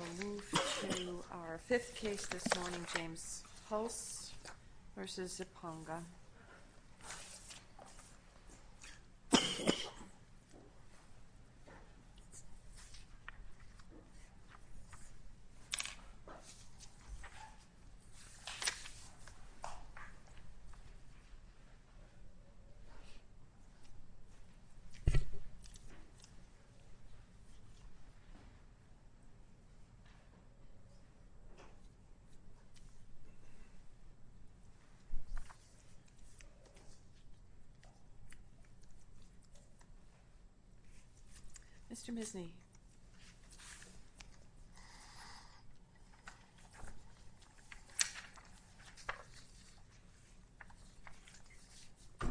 We will move to our fifth case this morning, James Hulce v. Zipongo. Mr. Misny. Good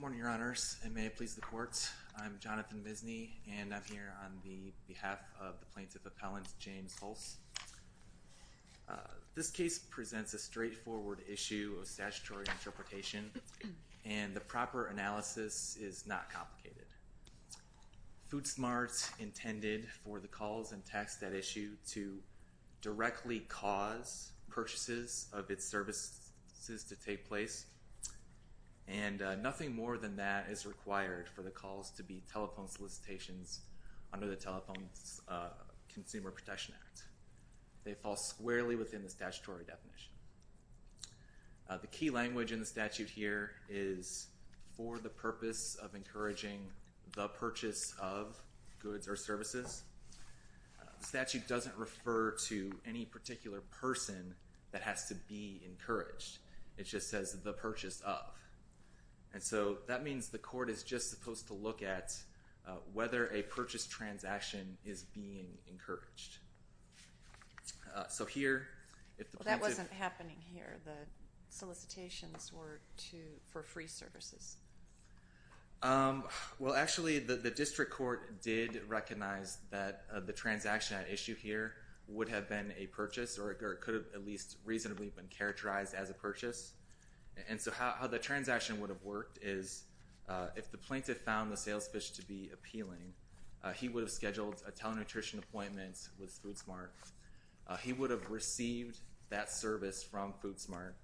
morning, Your Honors, and may it please the courts. I'm Jonathan Misny, and I'm here on behalf of the plaintiff appellant, James Hulce. This case presents a straightforward issue of statutory interpretation, and the proper analysis is not complicated. Food Smart intended for the calls and texts that issue to directly cause purchases of its services to take place, and nothing more than that is required for the calls to be telephone solicitations under the Telephone Consumer Protection Act. They fall squarely within the statutory definition. The key language in the statute here is for the purpose of encouraging the purchase of goods or services. The statute doesn't refer to any particular person that has to be encouraged. It just says the purchase of. And so that means the court is just supposed to look at whether a purchase transaction is being encouraged. So here, if the plaintiff— Well, that wasn't happening here. The solicitations were for free services. Well, actually, the district court did recognize that the transaction at issue here would have been a purchase or it could have at least reasonably been characterized as a purchase. And so how the transaction would have worked is if the plaintiff found the sales pitch to be appealing, he would have scheduled a telenutrition appointment with Food Smart. He would have received that service from Food Smart.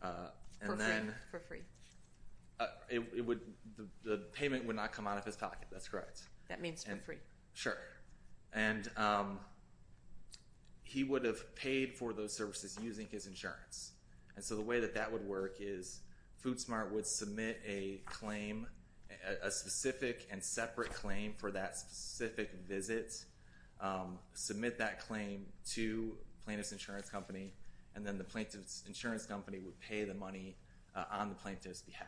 For free. The payment would not come out of his pocket. That's correct. That means for free. Sure. And he would have paid for those services using his insurance. And so the way that that would work is Food Smart would submit a claim, a specific and separate claim for that specific visit, submit that claim to the plaintiff's insurance company, and then the plaintiff's insurance company would pay the money on the plaintiff's behalf.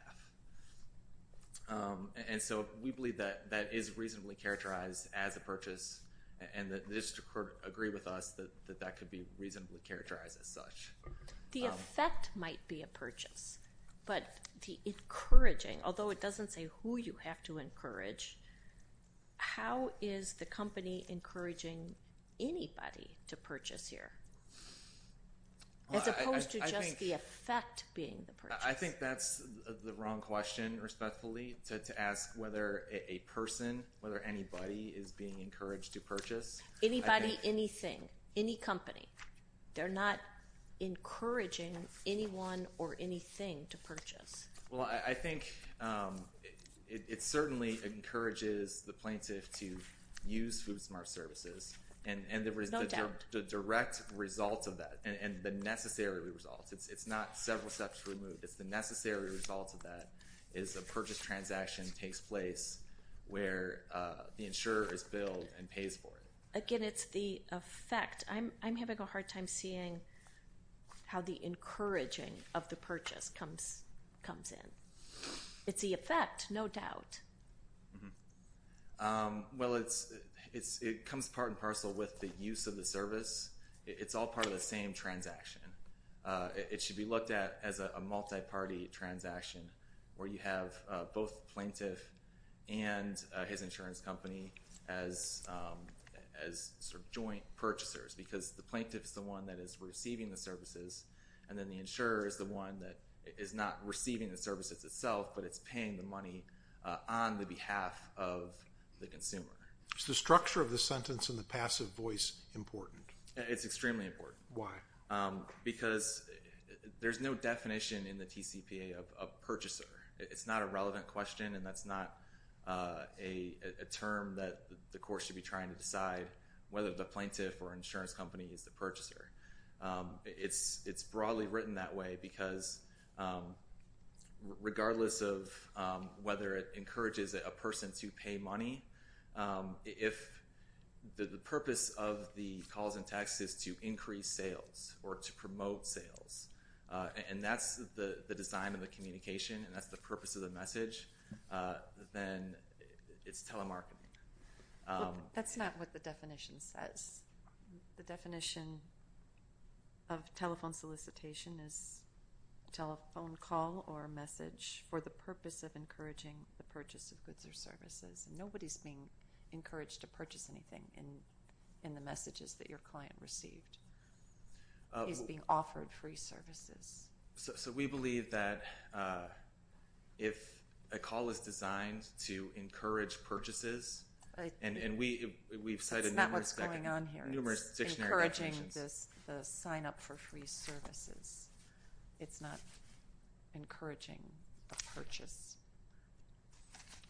And so we believe that that is reasonably characterized as a purchase, and the district court agreed with us that that could be reasonably characterized as such. The effect might be a purchase, but the encouraging, although it doesn't say who you have to encourage, how is the company encouraging anybody to purchase here as opposed to just the effect being the purchase? I think that's the wrong question, respectfully, to ask whether a person, whether anybody is being encouraged to purchase. Anybody, anything, any company. They're not encouraging anyone or anything to purchase. Well, I think it certainly encourages the plaintiff to use Food Smart services. And the direct result of that and the necessary result. It's not several steps removed. It's the necessary result of that is a purchase transaction takes place where the insurer is billed and pays for it. Again, it's the effect. I'm having a hard time seeing how the encouraging of the purchase comes in. It's the effect, no doubt. Well, it comes part and parcel with the use of the service. It's all part of the same transaction. It should be looked at as a multi-party transaction where you have both the plaintiff and his insurance company as joint purchasers. Because the plaintiff is the one that is receiving the services, and then the insurer is the one that is not receiving the services itself, but it's paying the money on the behalf of the consumer. Is the structure of the sentence and the passive voice important? It's extremely important. Because there's no definition in the TCPA of purchaser. It's not a relevant question, and that's not a term that the court should be trying to decide whether the plaintiff or insurance company is the purchaser. It's broadly written that way because regardless of whether it encourages a person to pay money, if the purpose of the calls and texts is to increase sales or to promote sales, and that's the design of the communication and that's the purpose of the message, then it's telemarketing. That's not what the definition says. The definition of telephone solicitation is a telephone call or a message for the purpose of encouraging the purchase of goods or services. Nobody's being encouraged to purchase anything in the messages that your client received. He's being offered free services. So we believe that if a call is designed to encourage purchases, and we've cited numbers back and forth. It's encouraging the sign-up for free services. It's not encouraging the purchase.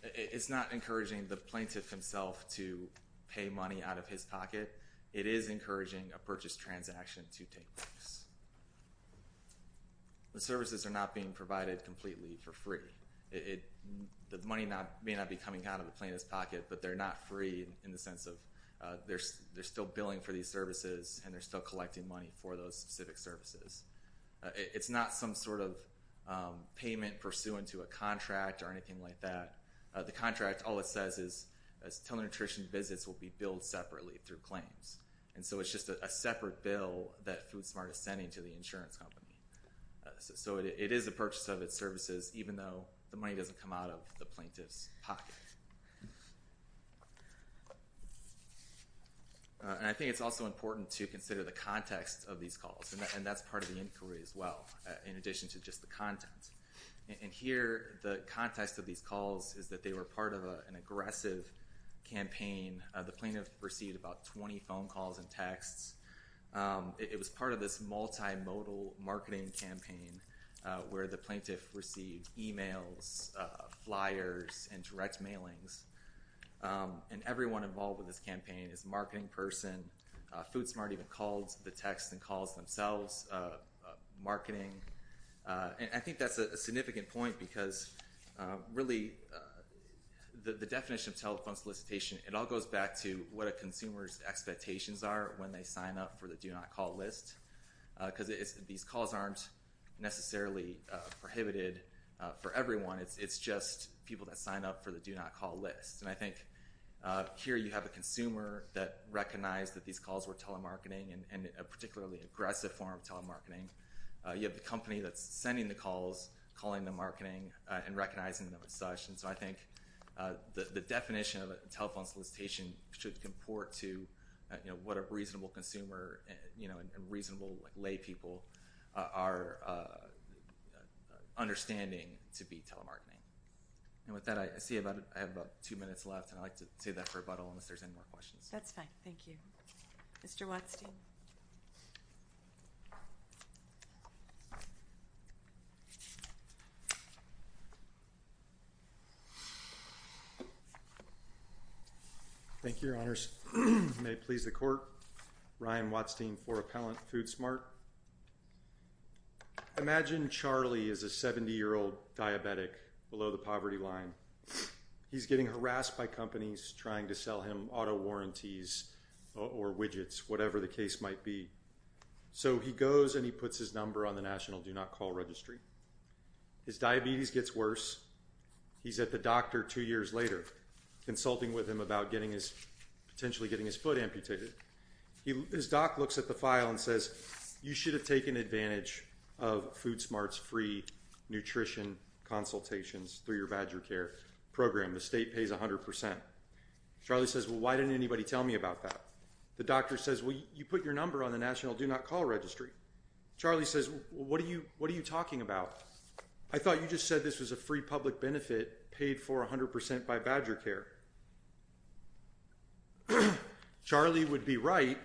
It's not encouraging the plaintiff himself to pay money out of his pocket. It is encouraging a purchase transaction to take place. The services are not being provided completely for free. The money may not be coming out of the plaintiff's pocket, but they're not free in the sense of they're still billing for these services and they're still collecting money for those specific services. It's not some sort of payment pursuant to a contract or anything like that. The contract, all it says is telenutrition visits will be billed separately through claims. And so it's just a separate bill that FoodSmart is sending to the insurance company. So it is a purchase of its services, even though the money doesn't come out of the plaintiff's pocket. And I think it's also important to consider the context of these calls. And that's part of the inquiry as well, in addition to just the content. And here, the context of these calls is that they were part of an aggressive campaign. The plaintiff received about 20 phone calls and texts. It was part of this multimodal marketing campaign where the plaintiff received emails, flyers, and direct mailings. And everyone involved with this campaign is a marketing person. FoodSmart even calls the texts and calls themselves, marketing. And I think that's a significant point because, really, the definition of telephone solicitation, it all goes back to what a consumer's expectations are when they sign up for the do-not-call list. Because these calls aren't necessarily prohibited for everyone. It's just people that sign up for the do-not-call list. And I think here you have a consumer that recognized that these calls were telemarketing, and a particularly aggressive form of telemarketing. You have the company that's sending the calls, calling the marketing, and recognizing them as such. And so I think the definition of telephone solicitation should comport to what a reasonable consumer and reasonable laypeople are understanding to be telemarketing. And with that, I see I have about two minutes left. And I'd like to save that for rebuttal unless there's any more questions. That's fine. Thank you. Mr. Watstein? Thank you, Your Honors. May it please the Court. Ryan Watstein for Appellant Foodsmart. Imagine Charlie is a 70-year-old diabetic below the poverty line. He's getting harassed by companies trying to sell him auto warranties or widgets, whatever the case might be. So he goes and he puts his number on the national do-not-call registry. His diabetes gets worse. He's at the doctor two years later consulting with him about potentially getting his foot amputated. His doc looks at the file and says, you should have taken advantage of FoodSmart's free nutrition consultations through your BadgerCare program. The state pays 100%. Charlie says, well, why didn't anybody tell me about that? The doctor says, well, you put your number on the national do-not-call registry. Charlie says, well, what are you talking about? I thought you just said this was a free public benefit paid for 100% by BadgerCare. Charlie would be right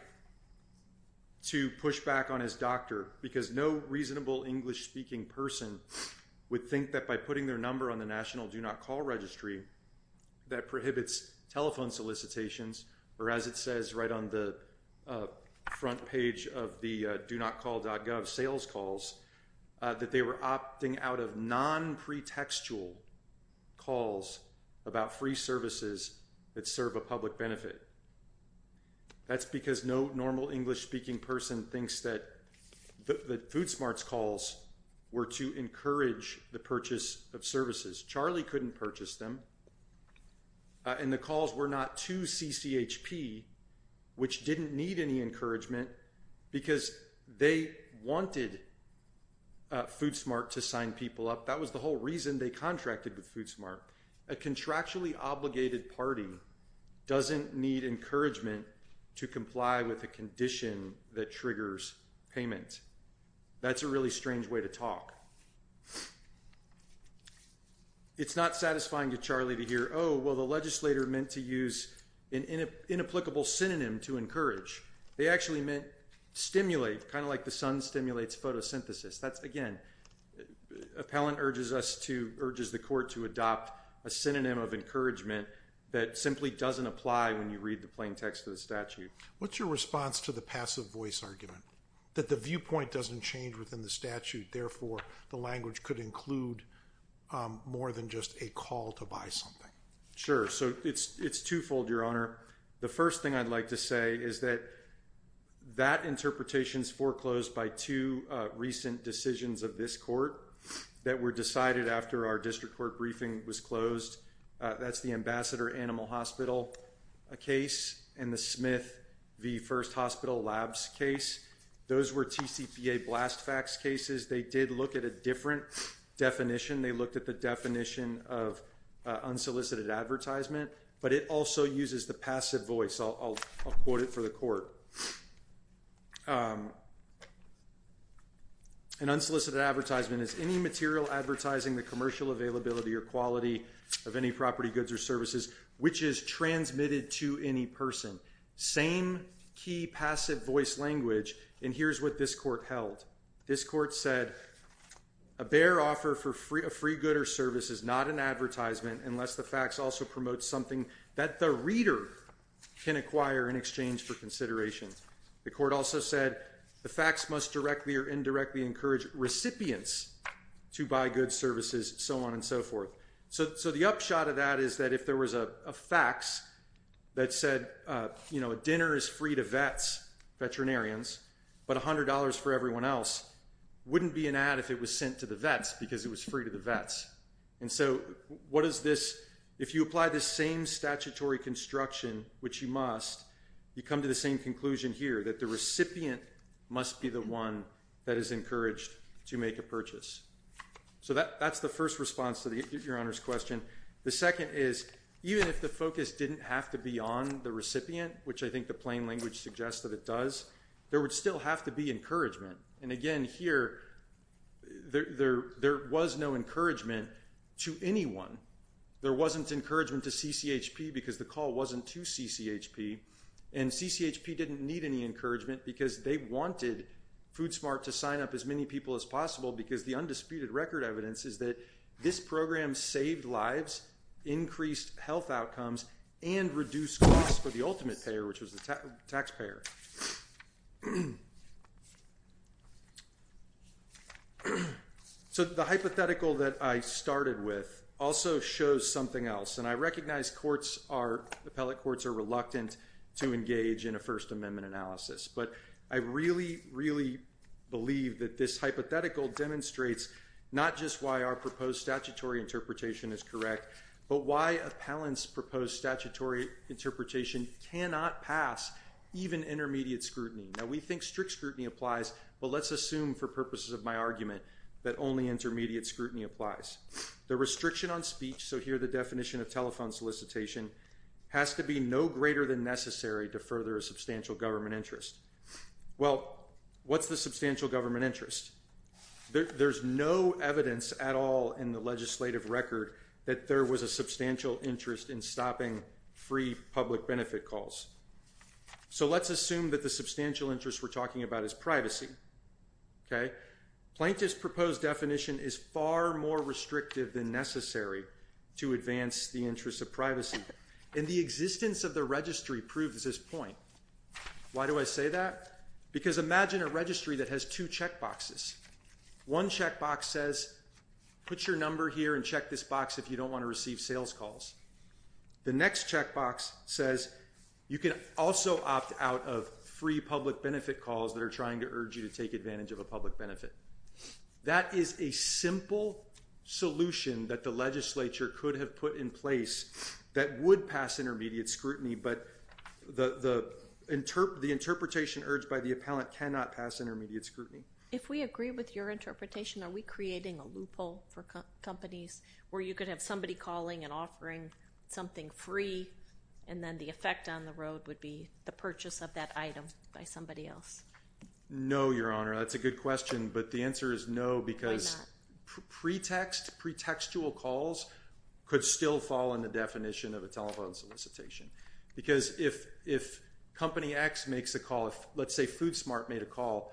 to push back on his doctor because no reasonable English-speaking person would think that by putting their number on the national do-not-call registry, that prohibits telephone solicitations, or as it says right on the front page of the do-not-call.gov sales calls, that they were opting out of non-pretextual calls about free services that serve a public benefit. That's because no normal English-speaking person thinks that the FoodSmart's calls were to encourage the purchase of services. Charlie couldn't purchase them. And the calls were not to CCHP, which didn't need any encouragement because they wanted FoodSmart to sign people up. That was the whole reason they contracted with FoodSmart. A contractually obligated party doesn't need encouragement to comply with a condition that triggers payment. That's a really strange way to talk. It's not satisfying to Charlie to hear, oh, well, the legislator meant to use an inapplicable synonym to encourage. They actually meant stimulate, kind of like the sun stimulates photosynthesis. That's, again, appellant urges the court to adopt a synonym of encouragement that simply doesn't apply when you read the plain text of the statute. What's your response to the passive voice argument, that the viewpoint doesn't change within the statute, therefore the language could include more than just a call to buy something? Sure. So it's twofold, Your Honor. The first thing I'd like to say is that that interpretation is foreclosed by two recent decisions of this court that were decided after our district court briefing was closed. That's the Ambassador Animal Hospital case and the Smith v. First Hospital Labs case. Those were TCPA blast facts cases. They did look at a different definition. They looked at the definition of unsolicited advertisement, but it also uses the passive voice. I'll quote it for the court. An unsolicited advertisement is any material advertising the commercial availability or quality of any property, goods or services, which is transmitted to any person. Same key passive voice language. And here's what this court held. This court said a bare offer for a free good or service is not an advertisement unless the facts also promote something that the reader can acquire in exchange for consideration. The court also said the facts must directly or indirectly encourage recipients to buy goods, services, so on and so forth. So the upshot of that is that if there was a fax that said, you know, dinner is free to vets, veterinarians, but $100 for everyone else wouldn't be an ad if it was sent to the vets because it was free to the vets. And so what is this? If you apply the same statutory construction, which you must, you come to the same conclusion here that the recipient must be the one that is encouraged to make a purchase. So that's the first response to your Honor's question. The second is even if the focus didn't have to be on the recipient, which I think the plain language suggests that it does, there would still have to be encouragement. And again here, there was no encouragement to anyone. There wasn't encouragement to CCHP because the call wasn't to CCHP. And CCHP didn't need any encouragement because they wanted Food Smart to sign up as many people as possible because the undisputed record evidence is that this program saved lives, increased health outcomes, and reduced costs for the ultimate payer, which was the taxpayer. So the hypothetical that I started with also shows something else. And I recognize courts are—appellate courts are reluctant to engage in a First Amendment analysis. But I really, really believe that this hypothetical demonstrates not just why our proposed statutory interpretation is correct, but why appellants' proposed statutory interpretation cannot pass even intermediate scrutiny. Now, we think strict scrutiny applies, but let's assume for purposes of my argument that only intermediate scrutiny applies. The restriction on speech—so here the definition of telephone solicitation—has to be no greater than necessary to further a substantial government interest. Well, what's the substantial government interest? There's no evidence at all in the legislative record that there was a substantial interest in stopping free public benefit calls. So let's assume that the substantial interest we're talking about is privacy. Plaintiff's proposed definition is far more restrictive than necessary to advance the interests of privacy. And the existence of the registry proves this point. Why do I say that? Because imagine a registry that has two checkboxes. One checkbox says, put your number here and check this box if you don't want to receive sales calls. The next checkbox says you can also opt out of free public benefit calls that are trying to urge you to take advantage of a public benefit. That is a simple solution that the legislature could have put in place that would pass intermediate scrutiny, but the interpretation urged by the appellant cannot pass intermediate scrutiny. If we agree with your interpretation, are we creating a loophole for companies where you could have somebody calling and offering something free and then the effect on the road would be the purchase of that item by somebody else? No, Your Honor. That's a good question, but the answer is no because pretextual calls could still fall in the definition of a telephone solicitation. Because if Company X makes a call, let's say Food Smart made a call,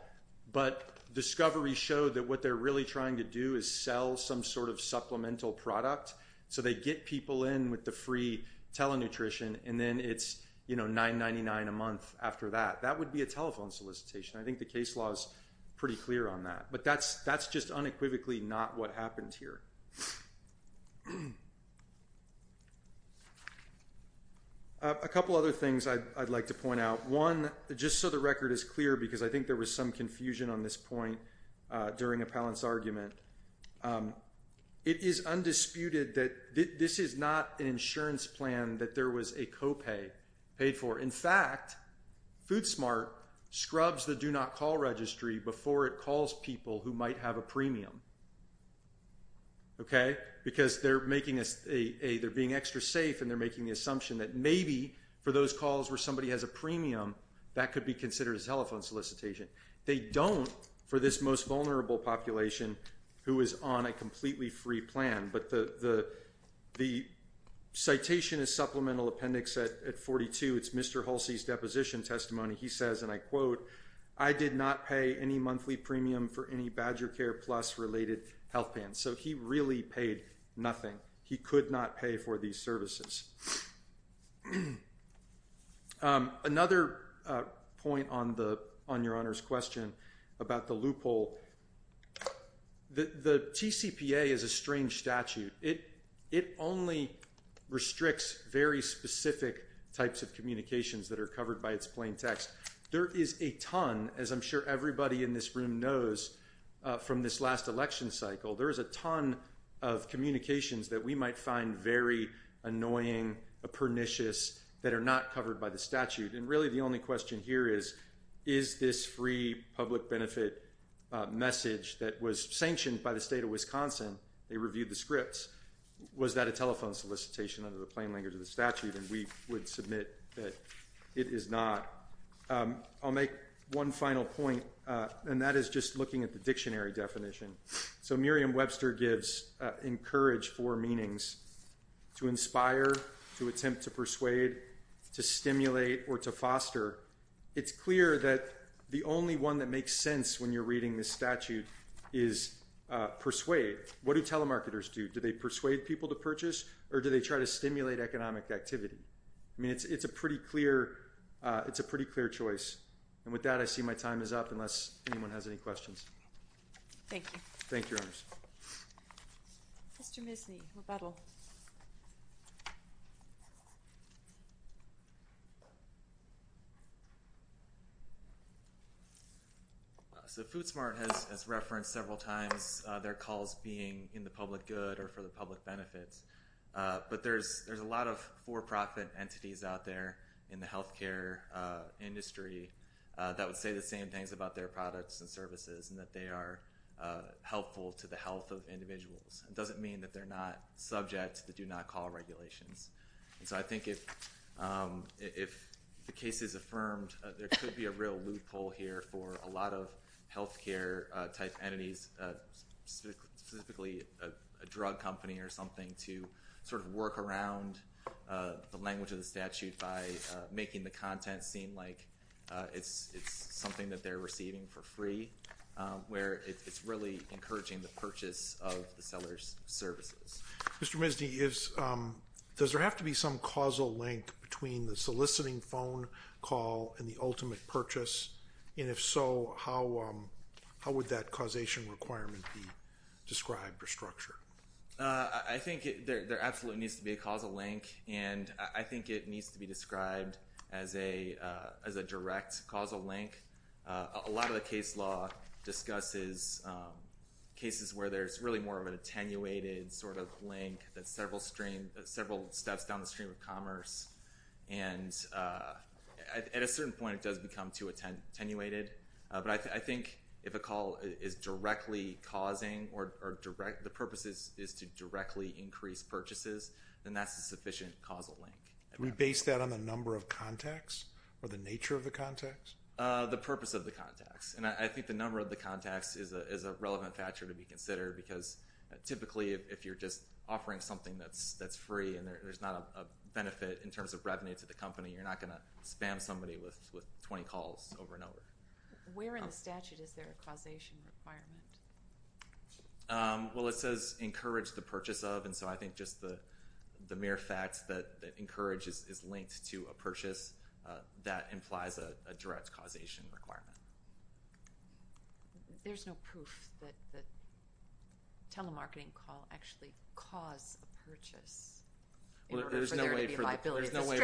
but Discovery showed that what they're really trying to do is sell some sort of supplemental product. So they get people in with the free telenutrition and then it's $9.99 a month after that. That would be a telephone solicitation. I think the case law is pretty clear on that, but that's just unequivocally not what happened here. A couple other things I'd like to point out. One, just so the record is clear because I think there was some confusion on this point during appellant's argument, it is undisputed that this is not an insurance plan that there was a co-pay paid for. In fact, Food Smart scrubs the Do Not Call Registry before it calls people who might have a premium because they're being extra safe and they're making the assumption that maybe for those calls where somebody has a premium, that could be considered a telephone solicitation. They don't for this most vulnerable population who is on a completely free plan. But the citation is Supplemental Appendix at 42. It's Mr. Halsey's deposition testimony. He says, and I quote, I did not pay any monthly premium for any BadgerCare Plus related health plans. So he really paid nothing. He could not pay for these services. Another point on your Honor's question about the loophole, the TCPA is a strange statute. It only restricts very specific types of communications that are covered by its plain text. There is a ton, as I'm sure everybody in this room knows from this last election cycle, there is a ton of communications that we might find very annoying, pernicious, that are not covered by the statute. And really the only question here is, is this free public benefit message that was sanctioned by the state of Wisconsin, they reviewed the scripts, was that a telephone solicitation under the plain language of the statute? Or even we would submit that it is not. I'll make one final point, and that is just looking at the dictionary definition. So Merriam-Webster gives encouraged four meanings, to inspire, to attempt to persuade, to stimulate, or to foster. It's clear that the only one that makes sense when you're reading this statute is persuade. What do telemarketers do? Do they persuade people to purchase, or do they try to stimulate economic activity? I mean, it's a pretty clear choice. And with that, I see my time is up, unless anyone has any questions. Thank you. Thank you, Your Honors. Mr. Misny, rebuttal. So Food Smart has referenced several times their calls being in the public good or for the public benefits. But there's a lot of for-profit entities out there in the health care industry that would say the same things about their products and services, and that they are helpful to the health of individuals. It doesn't mean that they're not subject to the do-not-call regulations. And so I think if the case is affirmed, there could be a real loophole here for a lot of health care-type entities, specifically a drug company or something, to sort of work around the language of the statute by making the content seem like it's something that they're receiving for free, where it's really encouraging the purchase of the seller's services. Mr. Misny, does there have to be some causal link between the soliciting phone call and the ultimate purchase? And if so, how would that causation requirement be described or structured? I think there absolutely needs to be a causal link, and I think it needs to be described as a direct causal link. A lot of the case law discusses cases where there's really more of an attenuated sort of link that's several steps down the stream of commerce. And at a certain point, it does become too attenuated. But I think if a call is directly causing or the purpose is to directly increase purchases, then that's a sufficient causal link. Do we base that on the number of contacts or the nature of the contacts? The purpose of the contacts, and I think the number of the contacts is a relevant factor to be considered, because typically if you're just offering something that's free and there's not a benefit in terms of revenue to the company, you're not going to spam somebody with 20 calls over and over. Where in the statute is there a causation requirement? Well, it says encourage the purchase of, and so I think just the mere fact that encourage is linked to a purchase, that implies a direct causation requirement. There's no proof that a telemarketing call actually caused a purchase in order for there to be liability. There's no way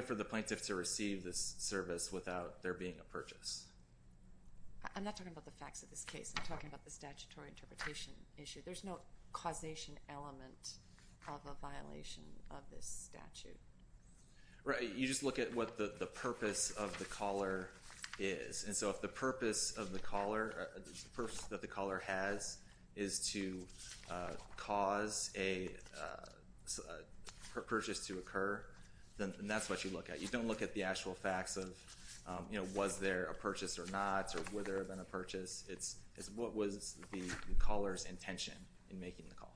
for the plaintiff to receive this service without there being a purchase. I'm not talking about the facts of this case. I'm talking about the statutory interpretation issue. There's no causation element of a violation of this statute. Right. You just look at what the purpose of the caller is. And so if the purpose that the caller has is to cause a purchase to occur, then that's what you look at. You don't look at the actual facts of, you know, was there a purchase or not, or whether there had been a purchase. It's what was the caller's intention in making the call.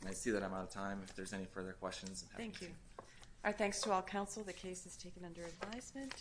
And I see that I'm out of time. If there's any further questions. Thank you. Our thanks to all counsel. The case is taken under advisement.